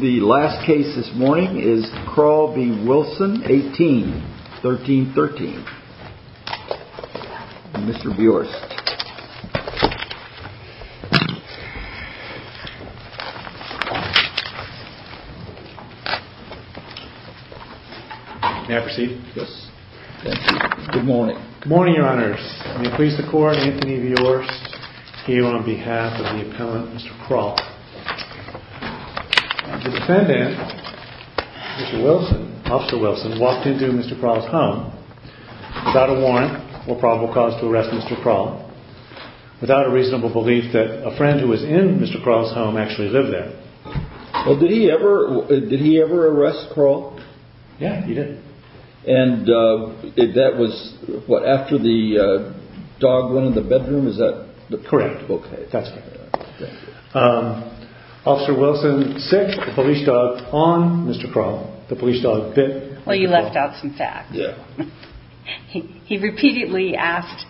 The last case this morning is Crall v. Wilson, 18, 1313. Mr. Bjorst. May I proceed? Yes. Thank you. Good morning. Good morning, your honors. May it please the court, Anthony Bjorst, here on behalf of the appellant, Mr. Crall. The defendant, Mr. Wilson, Officer Wilson, walked into Mr. Crall's home without a warrant or probable cause to arrest Mr. Crall, without a reasonable belief that a friend who was in Mr. Crall's home actually lived there. Well, did he ever arrest Crall? Yeah, he did. And that was, what, after the dog went in the bedroom? Is that correct? Correct. Okay, that's correct. Officer Wilson set the police dog on Mr. Crall. The police dog bit Mr. Crall. Well, you left out some facts. Yeah. He repeatedly asked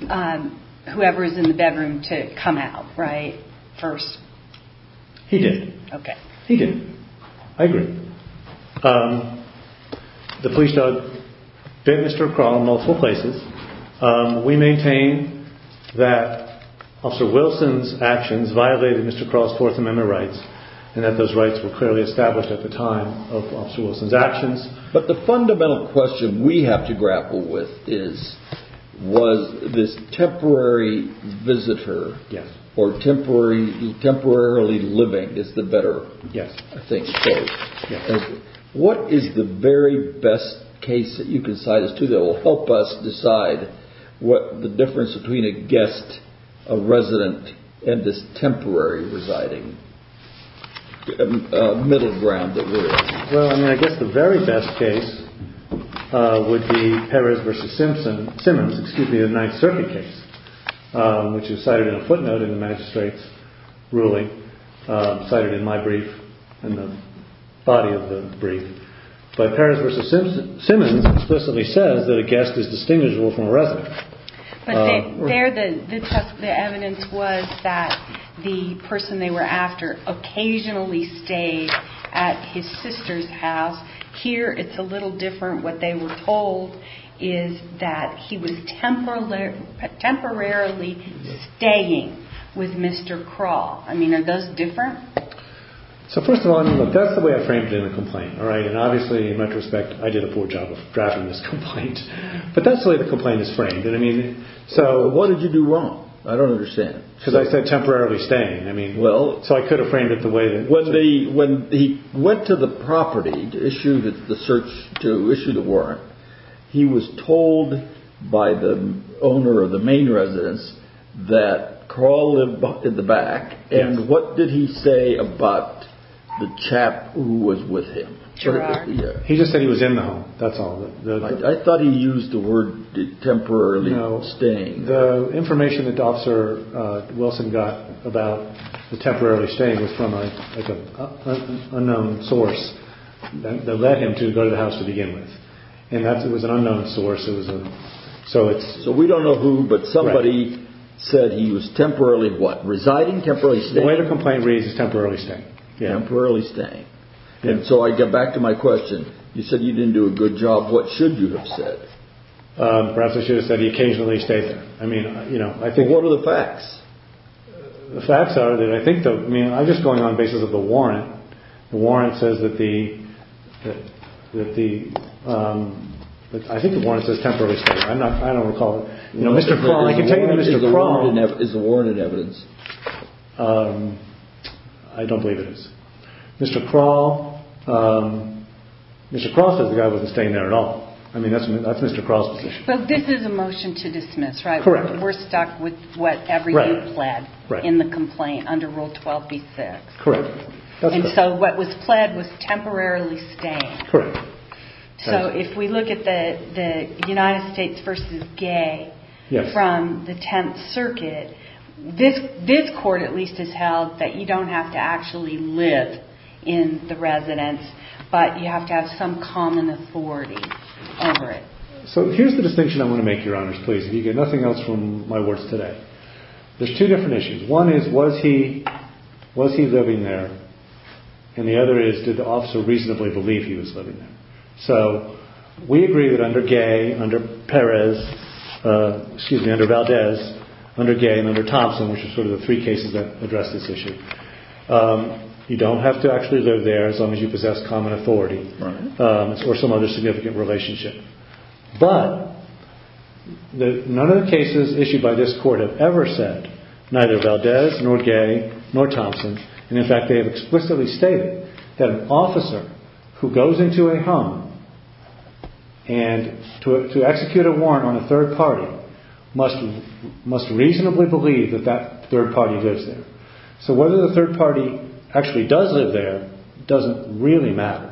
whoever was in the bedroom to come out, right, first? He did. Okay. He did. I agree. The police dog bit Mr. Crall in multiple places. We maintain that Officer Wilson's actions violated Mr. Crall's Fourth Amendment rights, and that those rights were clearly established at the time of Officer Wilson's actions. But the fundamental question we have to grapple with is, was this temporary visitor or temporarily living is the better thing to say? What is the very best case that you can cite as to that will help us decide the difference between a guest, a resident, and this temporary residing middle ground that we're in? Well, I mean, I guess the very best case would be Perez v. Simmons, excuse me, the Ninth Circuit case, which is cited in a footnote in the magistrate's ruling, cited in my brief, in the body of the brief. But Perez v. Simmons explicitly says that a guest is distinguishable from a resident. But there the evidence was that the person they were after occasionally stayed at his sister's house. Here it's a little different. What they were told is that he was temporarily staying with Mr. Crall. I mean, are those different? So, first of all, that's the way I framed it in the complaint, all right? And obviously, in retrospect, I did a poor job of drafting this complaint. But that's the way the complaint is framed. What did you do wrong? I don't understand. Because I said temporarily staying. So I could have framed it the way that was. When he went to the property to issue the warrant, he was told by the owner of the main residence that Crall lived in the back. And what did he say about the chap who was with him? He just said he was in the home. That's all. I thought he used the word temporarily staying. The information that Officer Wilson got about the temporarily staying was from an unknown source that led him to go to the house to begin with. And it was an unknown source. So we don't know who, but somebody said he was temporarily what? Residing? Temporarily staying? The way the complaint reads is temporarily staying. Temporarily staying. And so I get back to my question. You said you didn't do a good job. What should you have said? Perhaps I should have said he occasionally stays. I mean, you know, I think. What are the facts? The facts are that I think, I mean, I'm just going on the basis of the warrant. The warrant says that the, I think the warrant says temporarily staying. I'm not, I don't recall it. You know, Mr. Crall, I can tell you Mr. Crall. Is the warrant evidence? I don't believe it is. Mr. Crall, Mr. Crall says the guy wasn't staying there at all. I mean, that's Mr. Crall's position. So this is a motion to dismiss, right? Correct. We're stuck with what everybody pled in the complaint under Rule 12b-6. Correct. And so what was pled was temporarily staying. Correct. So if we look at the United States v. Gay from the Tenth Circuit, this court at least has held that you don't have to actually live in the residence, but you have to have some common authority over it. So here's the distinction I want to make, Your Honors, please, if you get nothing else from my words today. There's two different issues. One is, was he living there? And the other is, did the officer reasonably believe he was living there? So we agree that under Gay, under Perez, excuse me, under Valdez, under Gay and under Thompson, which are sort of the three cases that address this issue, you don't have to actually live there as long as you possess common authority or some other significant relationship. But none of the cases issued by this court have ever said neither Valdez nor Gay nor Thompson, and in fact they have explicitly stated that an officer who goes into a home and to execute a warrant on a third party must reasonably believe that that third party lives there. So whether the third party actually does live there doesn't really matter.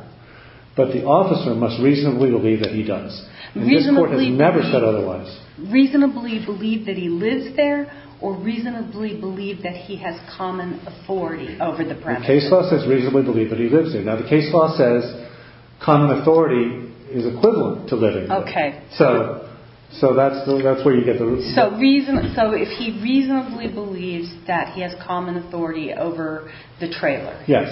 But the officer must reasonably believe that he does. And this court has never said otherwise. Reasonably believe that he lives there or reasonably believe that he has common authority over the premise? The case law says reasonably believe that he lives there. Now the case law says common authority is equivalent to living there. Okay. So that's where you get the... So if he reasonably believes that he has common authority over the trailer. Yes,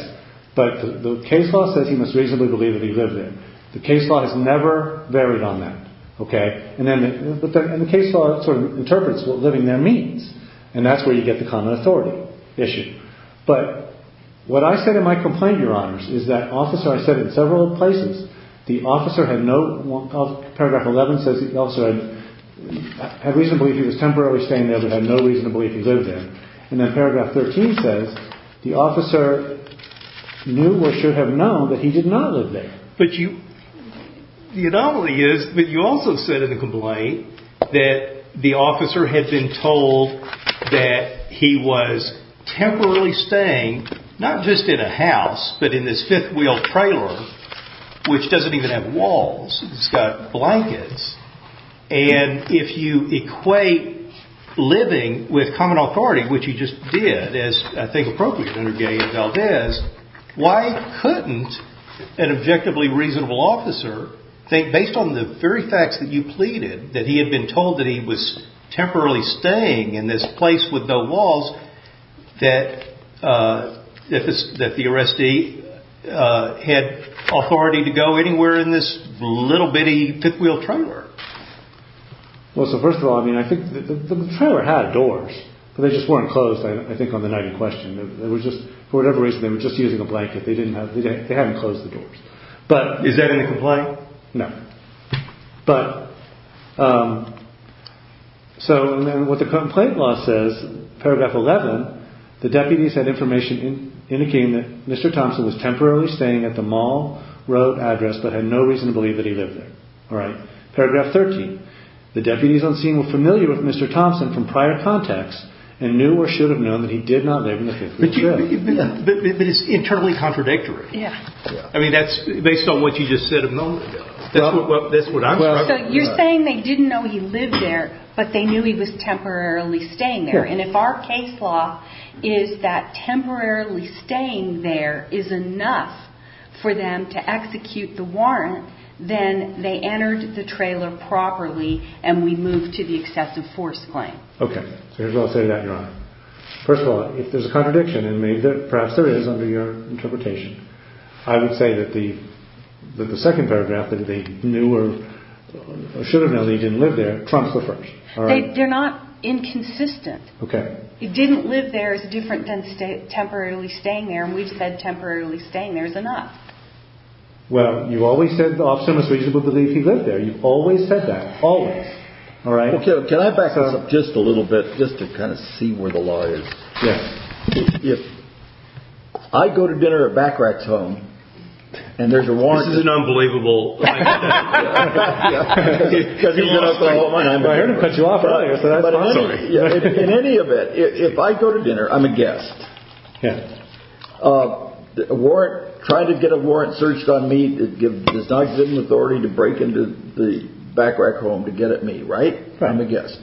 but the case law says he must reasonably believe that he lives there. The case law has never varied on that, okay? And the case law sort of interprets what living there means. And that's where you get the common authority issue. But what I said in my complaint, Your Honors, is that officer... I said it in several places. The officer had no... Paragraph 11 says the officer had reason to believe he was temporarily staying there but had no reason to believe he lived there. And then paragraph 13 says the officer knew or should have known that he did not live there. But you... The anomaly is that you also said in the complaint that the officer had been told that he was temporarily staying, not just in a house, but in this fifth-wheel trailer, which doesn't even have walls. It's got blankets. And if you equate living with common authority, which he just did, as I think appropriate under Gay and Valdez, why couldn't an objectively reasonable officer think, based on the very facts that you pleaded, that he had been told that he was temporarily staying in this place with no walls, that the arrestee had authority to go anywhere in this little bitty fifth-wheel trailer? Well, so first of all, I mean, I think the trailer had doors, but they just weren't closed, I think, on the night in question. For whatever reason, they were just using a blanket. They hadn't closed the doors. But is that in the complaint? No. So what the complaint law says, paragraph 11, the deputies had information indicating that Mr. Thompson was temporarily staying at the Mall Road address but had no reason to believe that he lived there. Paragraph 13, the deputies on scene were familiar with Mr. Thompson from prior contacts and knew or should have known that he did not live in the fifth-wheel trailer. But it's internally contradictory. Yeah. I mean, that's based on what you just said a moment ago. That's what I'm talking about. So you're saying they didn't know he lived there, but they knew he was temporarily staying there. And if our case law is that temporarily staying there is enough for them to execute the warrant, then they entered the trailer properly and we move to the excessive force claim. Okay. So here's what I'll say to that, Your Honor. First of all, if there's a contradiction in me that perhaps there is under your interpretation, I would say that the second paragraph that they knew or should have known he didn't live there trumps the first. They're not inconsistent. Okay. He didn't live there is different than temporarily staying there. And we've said temporarily staying there is enough. Well, you always said the officer was reasonable to believe he lived there. You've always said that. Always. All right. Okay. Can I back up just a little bit just to kind of see where the law is? Yes. If I go to dinner at Bacarach's home and there's a warrant. This is an unbelievable. I heard him cut you off earlier, so that's fine. In any event, if I go to dinner, I'm a guest. Yeah. A warrant, trying to get a warrant searched on me does not give an authority to break into the Bacarach home to get at me. Right. I'm a guest.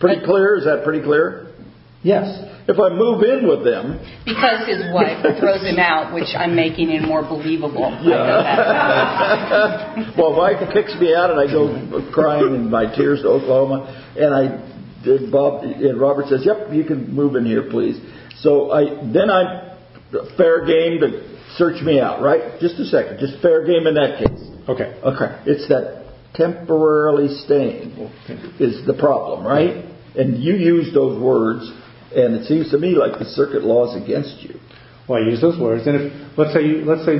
Pretty clear. Is that pretty clear? Yes. If I move in with them. Because his wife throws him out, which I'm making it more believable. Well, wife picks me out and I go crying in my tears to Oklahoma. And Robert says, yep, you can move in here, please. So then fair game to search me out. Right. Just a second. Just fair game in that case. Okay. Okay. It's that temporarily staying is the problem. Right. And you use those words. And it seems to me like the circuit laws against you. Well, I use those words. And let's say, let's say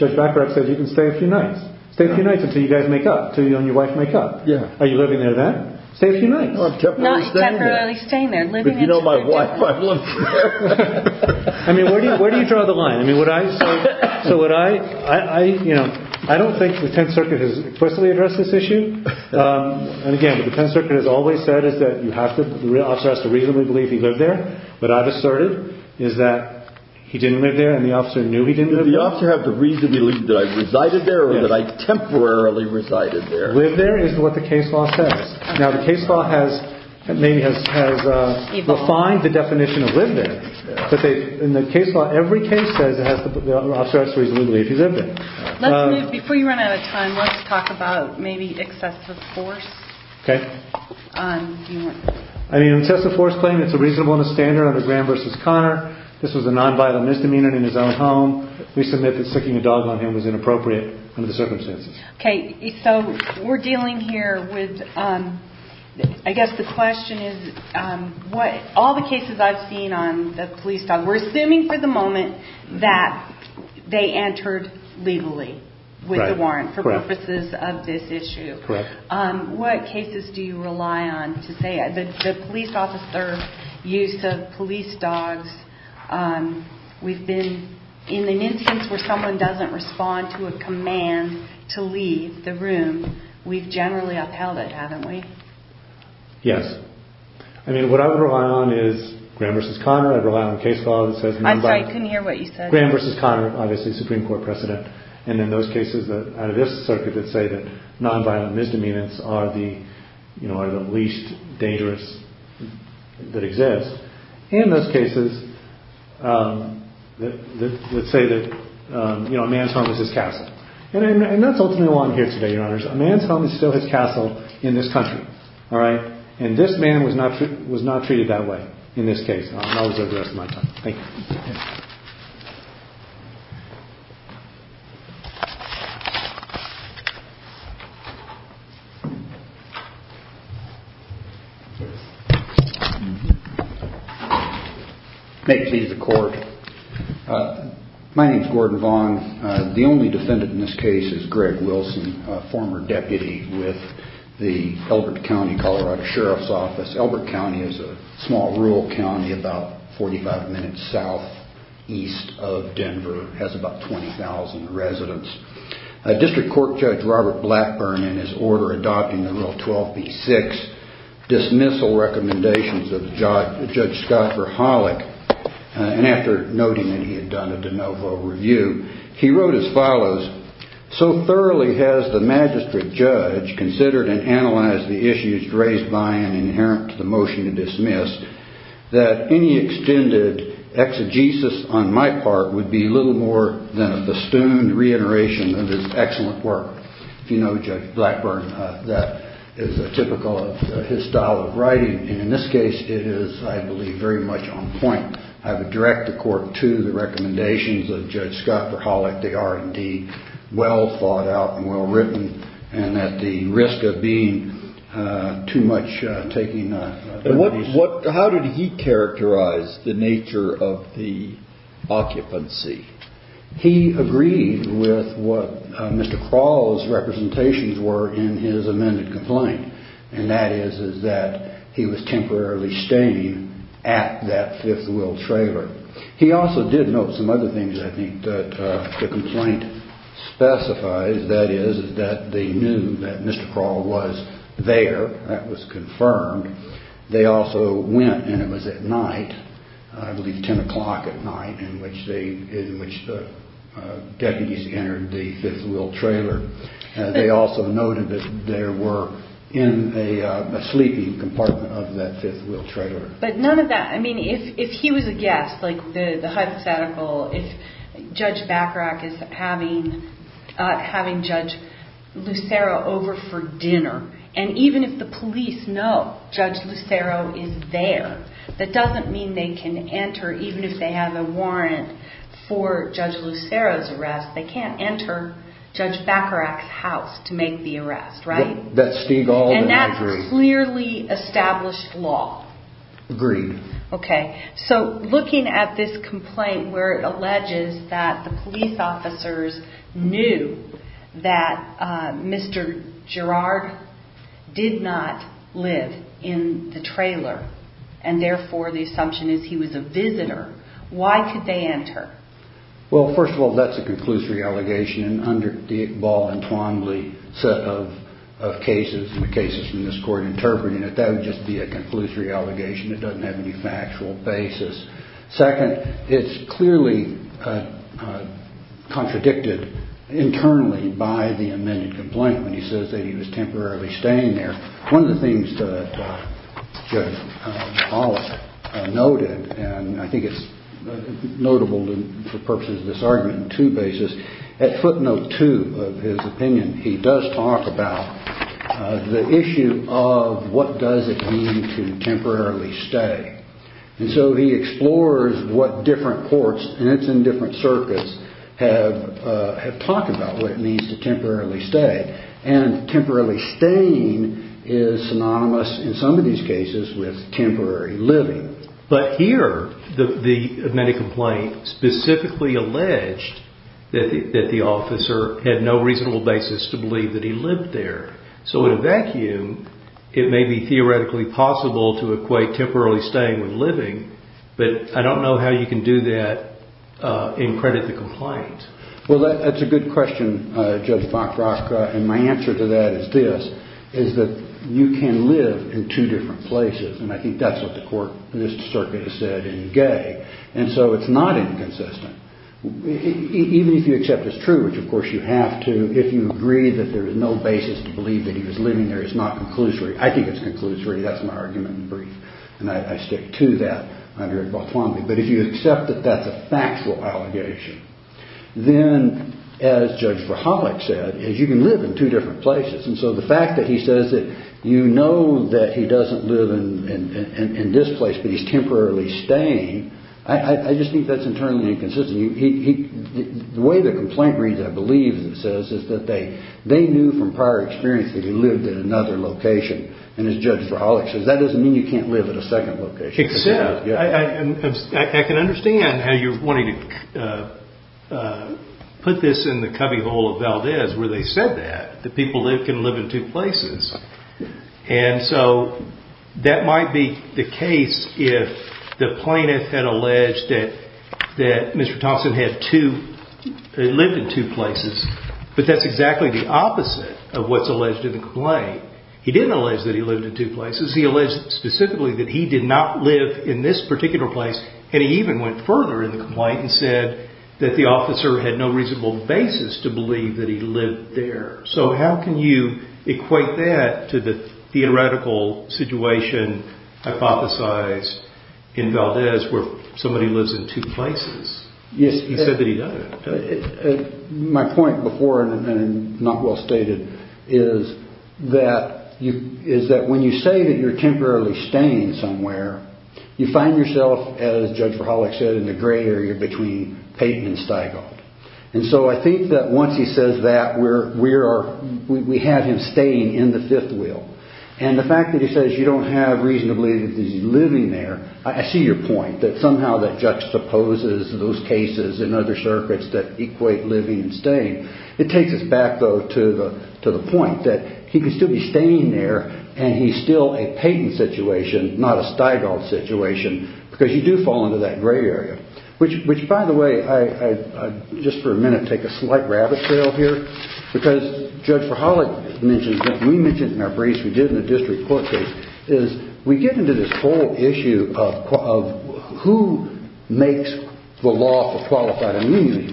Judge Bacarach said you can stay a few nights. Stay a few nights until you guys make up. Until you and your wife make up. Yeah. Are you living there then? Stay a few nights. I'm temporarily staying there. But you know my wife, I'm living there. I mean, where do you draw the line? I mean, what I, so what I, I, you know, I don't think the 10th circuit has explicitly addressed this issue. And again, the 10th circuit has always said is that you have to, the officer has to reasonably believe he lived there. But I've asserted is that he didn't live there and the officer knew he didn't live there. Did the officer have to reasonably believe that I resided there or that I temporarily resided there? Live there is what the case law says. Now, the case law has maybe has refined the definition of live there. In the case law, every case says the officer has to reasonably believe he lived there. Let's move, before you run out of time, let's talk about maybe excessive force. Okay. I mean, excessive force claim, it's a reasonable and a standard under Graham versus Connor. This was a non-vital misdemeanor in his own home. We submit that sticking a dog on him was inappropriate under the circumstances. Okay. So we're dealing here with, I guess the question is what, all the cases I've seen on the police dog, we're assuming for the moment that they entered legally with the warrant for purposes of this issue. Correct. What cases do you rely on to say that the police officer used the police dogs within, in the instance where someone doesn't respond to a command to leave the room, we've generally upheld it, haven't we? Yes. I mean, what I would rely on is Graham versus Connor. I'd rely on a case law that says non-violent. I'm sorry, I couldn't hear what you said. Graham versus Connor, obviously Supreme Court precedent. And in those cases out of this circuit that say that non-violent misdemeanors are the least dangerous that exist. In those cases, let's say that a man's home is his castle. And that's ultimately why I'm here today, your honors. A man's home is still his castle in this country. All right. And this man was not treated that way in this case. I'll observe the rest of my time. Thank you. May it please the court. My name's Gordon Vaughn. The only defendant in this case is Greg Wilson, a former deputy with the Elbert County, Colorado Sheriff's Office. Elbert County is a small rural county about 45 minutes southeast of Denver. It has about 20,000 residents. District Court Judge Robert Blackburn, in his order adopting the Rule 12b-6 dismissal recommendations of Judge Scott Verhollich, and after noting that he had done a de novo review, he wrote as follows. So thoroughly has the magistrate judge considered and analyzed the issues raised by and inherent to the motion to dismiss that any extended exegesis on my part would be little more than a festooned reiteration of his excellent work. If you know Judge Blackburn, that is a typical of his style of writing. And in this case, it is, I believe, very much on point. I would direct the court to the recommendations of Judge Scott Verhollich. They are indeed well thought out and well written and at the risk of being too much taking. How did he characterize the nature of the occupancy? He agreed with what Mr. Crawl's representations were in his amended complaint, and that is that he was temporarily staying at that fifth wheel trailer. He also did note some other things, I think, that the complaint specifies. That is that they knew that Mr. Crawl was there. That was confirmed. They also went, and it was at night, I believe 10 o'clock at night, in which the deputies entered the fifth wheel trailer. They also noted that they were in a sleeping compartment of that fifth wheel trailer. But none of that, I mean, if he was a guest, like the hypothetical, if Judge Bacharach is having Judge Lucero over for dinner, and even if the police know Judge Lucero is there, that doesn't mean they can enter even if they have a warrant for Judge Lucero's arrest. They can't enter Judge Bacharach's house to make the arrest, right? That's Stigall, and I agree. And that's clearly established law. Agreed. Okay. So looking at this complaint where it alleges that the police officers knew that Mr. Girard did not live in the trailer, and therefore the assumption is he was a visitor, why could they enter? Well, first of all, that's a conclusory allegation, and under the Iqbal and Twombly set of cases, and the cases from this court interpreting it, that would just be a conclusory allegation. It doesn't have any factual basis. Second, it's clearly contradicted internally by the amended complaint when he says that he was temporarily staying there. One of the things that Judge Bollock noted, and I think it's notable for purposes of this argument in two bases, at footnote two of his opinion he does talk about the issue of what does it mean to temporarily stay. And so he explores what different courts, and it's in different circuits, have talked about what it means to temporarily stay, and temporarily staying is synonymous in some of these cases with temporary living. But here, the amended complaint specifically alleged that the officer had no reasonable basis to believe that he lived there. So in a vacuum, it may be theoretically possible to equate temporarily staying with living, but I don't know how you can do that and credit the complaint. Well, that's a good question, Judge Fokrok. And my answer to that is this, is that you can live in two different places, and I think that's what the court in this circuit has said in Gay, and so it's not inconsistent. Even if you accept it's true, which of course you have to if you agree that there is no basis to believe that he was living there, it's not conclusory. I think it's conclusory. That's my argument in brief, and I stick to that under Botwombly. But if you accept that that's a factual allegation, then, as Judge Verhollich said, is you can live in two different places. And so the fact that he says that you know that he doesn't live in this place but he's temporarily staying, I just think that's internally inconsistent. The way the complaint reads, I believe, it says, is that they knew from prior experience that he lived in another location. And as Judge Verhollich says, that doesn't mean you can't live in a second location. Except, I can understand how you're wanting to put this in the cubbyhole of Valdez where they said that, that people can live in two places. And so that might be the case if the plaintiff had alleged that Mr. Thompson lived in two places, but that's exactly the opposite of what's alleged in the complaint. He didn't allege that he lived in two places. He alleged specifically that he did not live in this particular place, and he even went further in the complaint and said that the officer had no reasonable basis to believe that he lived there. So how can you equate that to the theoretical situation hypothesized in Valdez where somebody lives in two places? He said that he doesn't. My point before, and not well stated, is that when you say that you're temporarily staying somewhere, you find yourself, as Judge Verhollich said, in the gray area between Payton and Stigold. And so I think that once he says that, we have him staying in the fifth wheel. And the fact that he says you don't have reason to believe that he's living there, I see your point that somehow that juxtaposes those cases in other circuits that equate living and staying. It takes us back, though, to the point that he could still be staying there, and he's still a Payton situation, not a Stigold situation, because you do fall into that gray area. Which, by the way, I just for a minute take a slight rabbit trail here, because Judge Verhollich mentions what we mentioned in our briefs we did in the district court case, is we get into this whole issue of who makes the law for qualified immunity.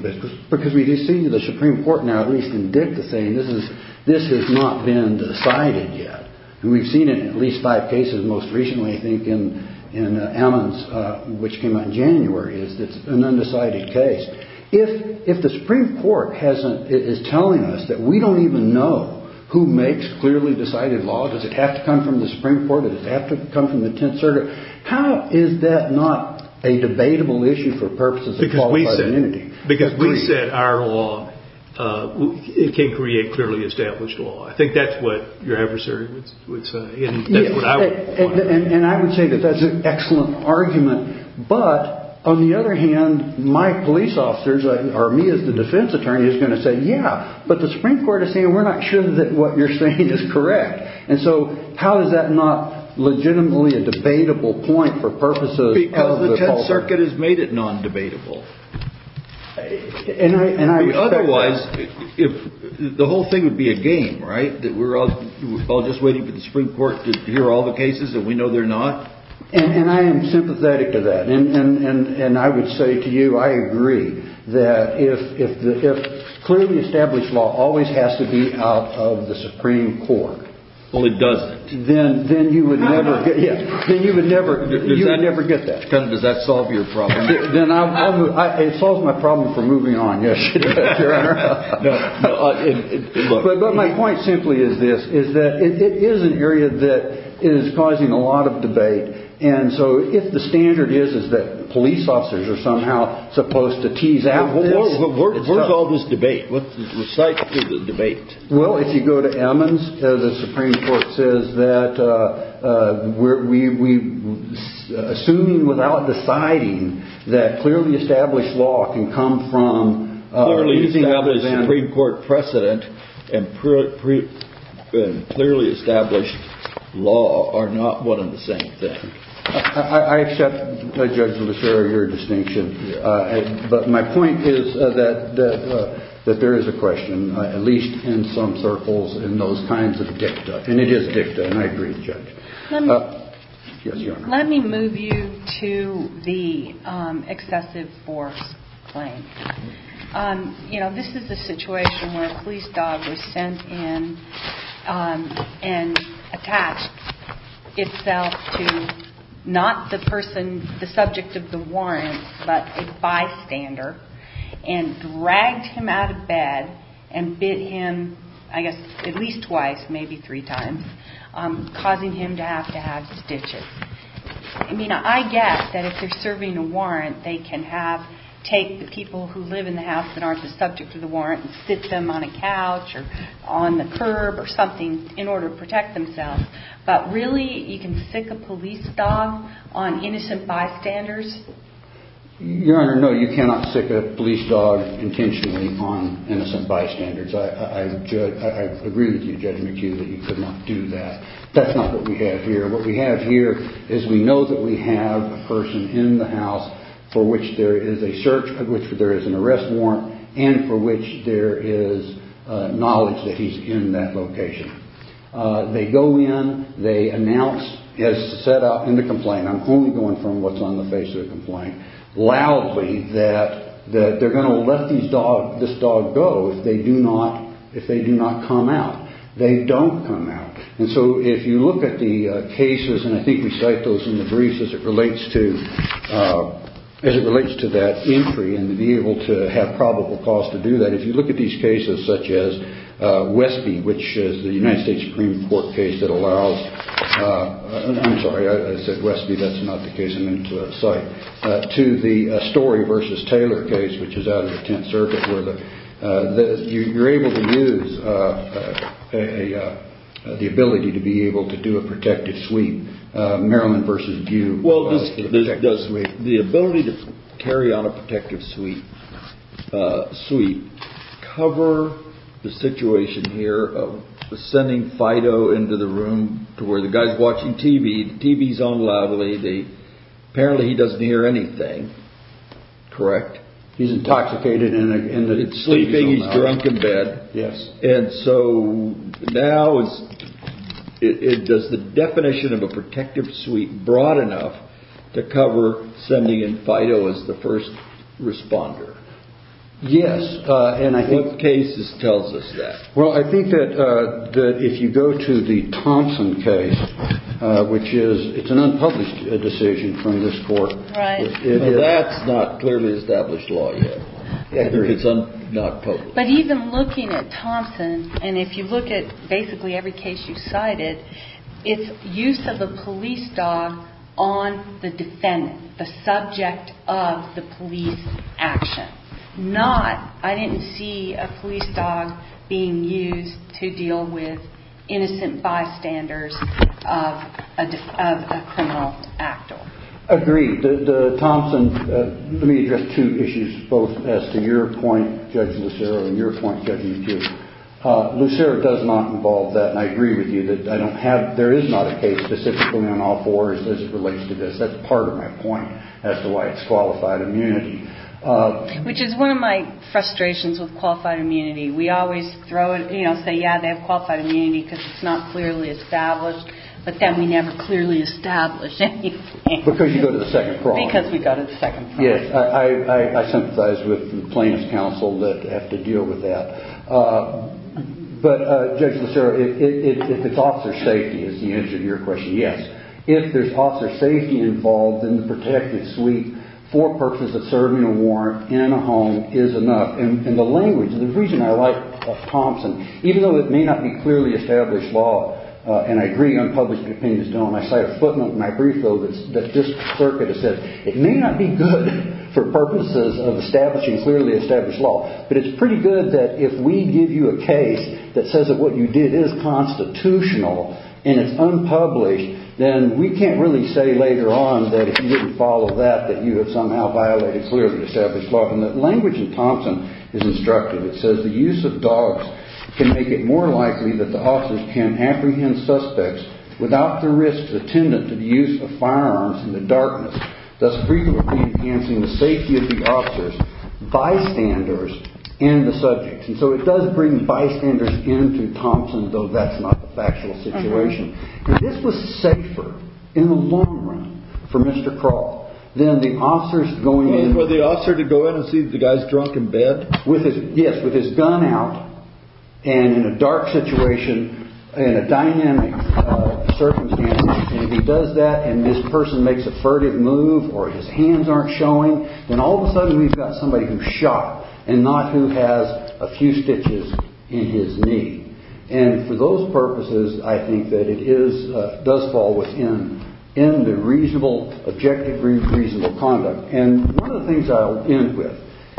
Because we do see the Supreme Court now, at least in Dick, is saying this has not been decided yet. And we've seen it in at least five cases most recently, I think, in Ammons, which came out in January, is that it's an undecided case. If the Supreme Court is telling us that we don't even know who makes clearly decided law, does it have to come from the Supreme Court, does it have to come from the Tenth Circuit? How is that not a debatable issue for purposes of qualified immunity? Because we said our law can create clearly established law. I think that's what your adversary would say, and that's what I would point out. And I would say that that's an excellent argument. But on the other hand, my police officers, or me as the defense attorney, is going to say, yeah, but the Supreme Court is saying we're not sure that what you're saying is correct. And so how is that not legitimately a debatable point for purposes of the Tenth Circuit? Because the Tenth Circuit has made it non-debatable. Otherwise, the whole thing would be a game, right, that we're all just waiting for the Supreme Court to hear all the cases that we know they're not? And I am sympathetic to that. And I would say to you I agree that if clearly established law always has to be out of the Supreme Court. Well, it doesn't. Then you would never get that. Does that solve your problem? It solves my problem for moving on, yes, Your Honor. But my point simply is this, is that it is an area that is causing a lot of debate. And so if the standard is, is that police officers are somehow supposed to tease out this. Where's all this debate? Recite the debate. Well, if you go to Emmons, the Supreme Court says that we're assuming without deciding that clearly established law can come from. Clearly established Supreme Court precedent and clearly established law are not one and the same thing. I accept, Judge Lucero, your distinction. But my point is that there is a question, at least in some circles, in those kinds of dicta. And it is dicta, and I agree with Judge. Let me move you to the excessive force claim. You know, this is a situation where a police dog was sent in and attached itself to not the person, the subject of the warrant, but a bystander. And dragged him out of bed and bit him, I guess, at least twice, maybe three times, causing him to have to have stitches. I mean, I guess that if they're serving a warrant, they can have, take the people who live in the house that aren't the subject of the warrant and sit them on a couch or on the curb or something in order to protect themselves. But really, you can sick a police dog on innocent bystanders? Your Honor, no, you cannot sick a police dog intentionally on innocent bystanders. I agree with you, Judge McHugh, that you could not do that. That's not what we have here. What we have here is we know that we have a person in the house for which there is a search, for which there is an arrest warrant, and for which there is knowledge that he's in that location. They go in, they announce, as set out in the complaint, I'm only going from what's on the face of the complaint, loudly that they're going to let this dog go if they do not come out. They don't come out. And so if you look at the cases, and I think we cite those in the briefs as it relates to that inquiry and to be able to have probable cause to do that, but if you look at these cases such as Westby, which is the United States Supreme Court case that allows, I'm sorry, I said Westby, that's not the case I meant to cite, to the Story v. Taylor case, which is out of the Tenth Circuit, where you're able to use the ability to be able to do a protective sweep. Well, does the ability to carry on a protective sweep cover the situation here of sending Fido into the room to where the guy's watching TV, the TV's on loudly, apparently he doesn't hear anything, correct? He's intoxicated and the TV's on loud. And so now, does the definition of a protective sweep broad enough to cover sending in Fido as the first responder? Yes. What case tells us that? Well, I think that if you go to the Thompson case, which is, it's an unpublished decision from this court, that's not clearly established law yet. It's not published. But even looking at Thompson, and if you look at basically every case you cited, it's use of a police dog on the defendant, the subject of the police action. Not, I didn't see a police dog being used to deal with innocent bystanders of a criminal actor. Agreed. Thompson, let me address two issues, both as to your point, Judge Lucero, and your point, Judge Eugene. Lucero does not involve that, and I agree with you that I don't have, there is not a case specifically on all fours as it relates to this. That's part of my point as to why it's qualified immunity. Which is one of my frustrations with qualified immunity. We always throw it, you know, say, yeah, they have qualified immunity because it's not clearly established. But then we never clearly establish anything. Because you go to the second problem. Because we go to the second problem. Yes, I sympathize with the plaintiff's counsel that have to deal with that. But, Judge Lucero, if it's officer safety, is the answer to your question, yes. If there's officer safety involved, then the protective suite for purposes of serving a warrant in a home is enough. And the language, the reason I like Thompson, even though it may not be clearly established law, and I agree unpublished opinions don't, I cite a footnote in my brief, though, that this circuit has said, it may not be good for purposes of establishing clearly established law. But it's pretty good that if we give you a case that says that what you did is constitutional and it's unpublished, then we can't really say later on that if you didn't follow that, that you have somehow violated clearly established law. And the language in Thompson is instructive. It says the use of dogs can make it more likely that the officers can apprehend suspects without the risk attendant to the use of firearms in the darkness, thus frequently enhancing the safety of the officers, bystanders, and the subjects. And so it does bring bystanders into Thompson, though that's not the factual situation. This was safer in the long run for Mr. Crawl than the officers going in. For the officer to go in and see if the guy's drunk in bed? Yes, with his gun out and in a dark situation and a dynamic circumstance. And if he does that and this person makes a furtive move or his hands aren't showing, then all of a sudden we've got somebody who's shot and not who has a few stitches in his knee. And for those purposes, I think that it does fall within the reasonable, objectively reasonable conduct. And one of the things I'll end with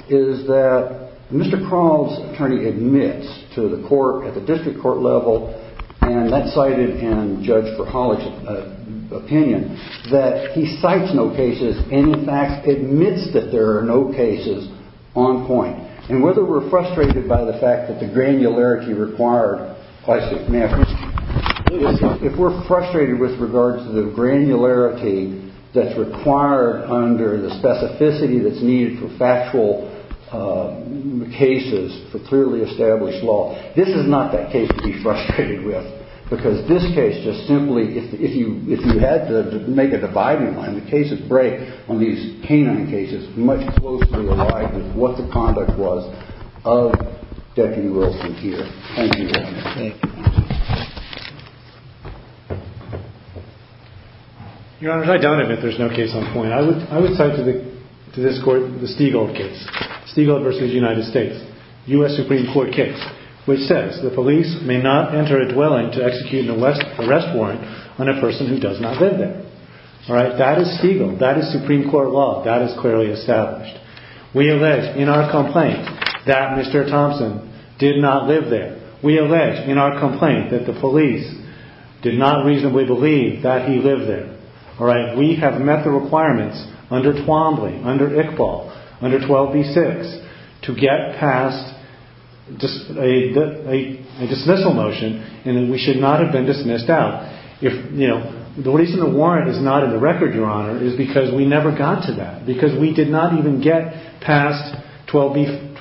is that Mr. Crawl's attorney admits to the court at the district court level, and that's cited in Judge Verhollich's opinion, that he cites no cases and, in fact, admits that there are no cases on point. And whether we're frustrated by the fact that the granularity required, if we're frustrated with regards to the granularity that's required under the specificity that's needed for factual cases, for clearly established law, this is not that case to be frustrated with because this case just simply, if you had to make a dividing line, the cases break on these canine cases much closer in the light of what the conduct was of Deputy Wilson here. Thank you, Your Honor. Thank you, Your Honor. Your Honor, I don't admit there's no case on point. I would cite to this court the Stiegel case, Stiegel v. United States, U.S. Supreme Court case, which says the police may not enter a dwelling to execute an arrest warrant on a person who does not live there. That is Stiegel, that is Supreme Court law, that is clearly established. We allege in our complaint that Mr. Thompson did not live there. We allege in our complaint that the police did not reasonably believe that he lived there. We have met the requirements under Twombly, under Iqbal, under 12b-6 to get past a dismissal motion and we should not have been dismissed out. The reason the warrant is not in the record, Your Honor, is because we never got to that, because we did not even get past 12b-6.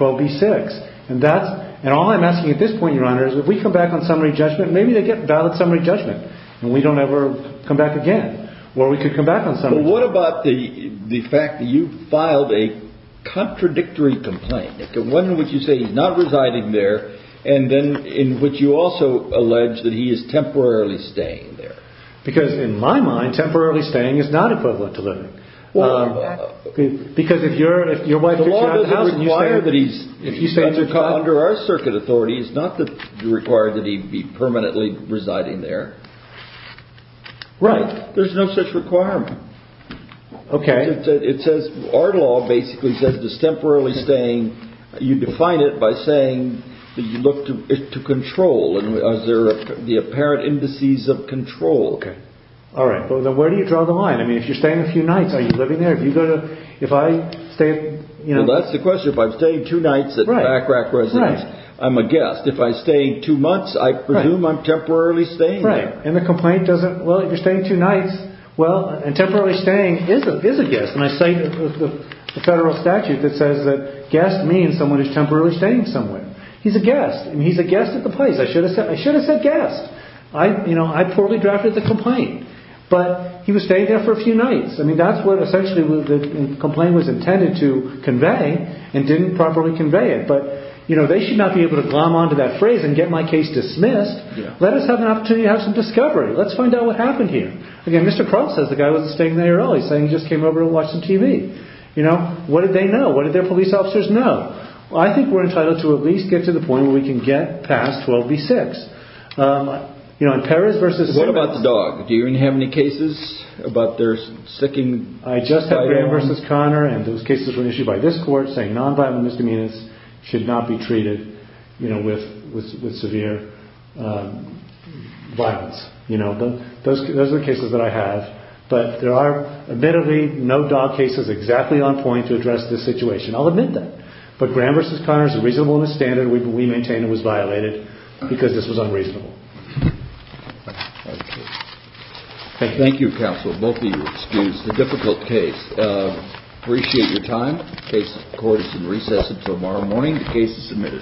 And all I'm asking at this point, Your Honor, is if we come back on summary judgment, maybe they get valid summary judgment and we don't ever come back again. Or we could come back on summary judgment. Well, what about the fact that you filed a contradictory complaint, one in which you say he's not residing there, and then in which you also allege that he is temporarily staying there? Because in my mind, temporarily staying is not equivalent to living. Well, that's... Because if you're... The law doesn't require that he's... If you say he's not... Under our circuit authority, it's not required that he be permanently residing there. Right. There's no such requirement. Okay. Our law basically says that temporarily staying... You define it by saying that you look to control. Those are the apparent indices of control. Okay. All right. Well, then where do you draw the line? I mean, if you're staying a few nights, are you living there? If you go to... If I stay... Well, that's the question. If I'm staying two nights at the back rack residence, I'm a guest. If I stay two months, I presume I'm temporarily staying there. Right. And the complaint doesn't... Well, if you're staying two nights... And temporarily staying is a guest. And I cite the federal statute that says that guest means someone who's temporarily staying somewhere. He's a guest. I mean, he's a guest at the place. I should have said guest. I poorly drafted the complaint. But he was staying there for a few nights. I mean, that's what essentially the complaint was intended to convey and didn't properly convey it. But they should not be able to glom onto that phrase and get my case dismissed. Let us have an opportunity to have some discovery. Let's find out what happened here. Again, Mr. Crump says the guy wasn't staying there early. He's saying he just came over to watch some TV. You know, what did they know? What did their police officers know? I think we're entitled to at least get to the point where we can get past 12 v. 6. You know, in Perez versus... What about the dog? Do you have any cases about their sticking... I just have Graham versus Connor, and those cases were issued by this court saying non-violent misdemeanors should not be treated, you know, with severe violence. You know, those are cases that I have. But there are, admittedly, no dog cases exactly on point to address this situation. I'll admit that. But Graham versus Connor is a reasonable and a standard. We maintain it was violated because this was unreasonable. Thank you. Thank you, counsel. Both of you were excused. It's a difficult case. I appreciate your time. The court is in recess until tomorrow morning. The case is submitted. Thank you.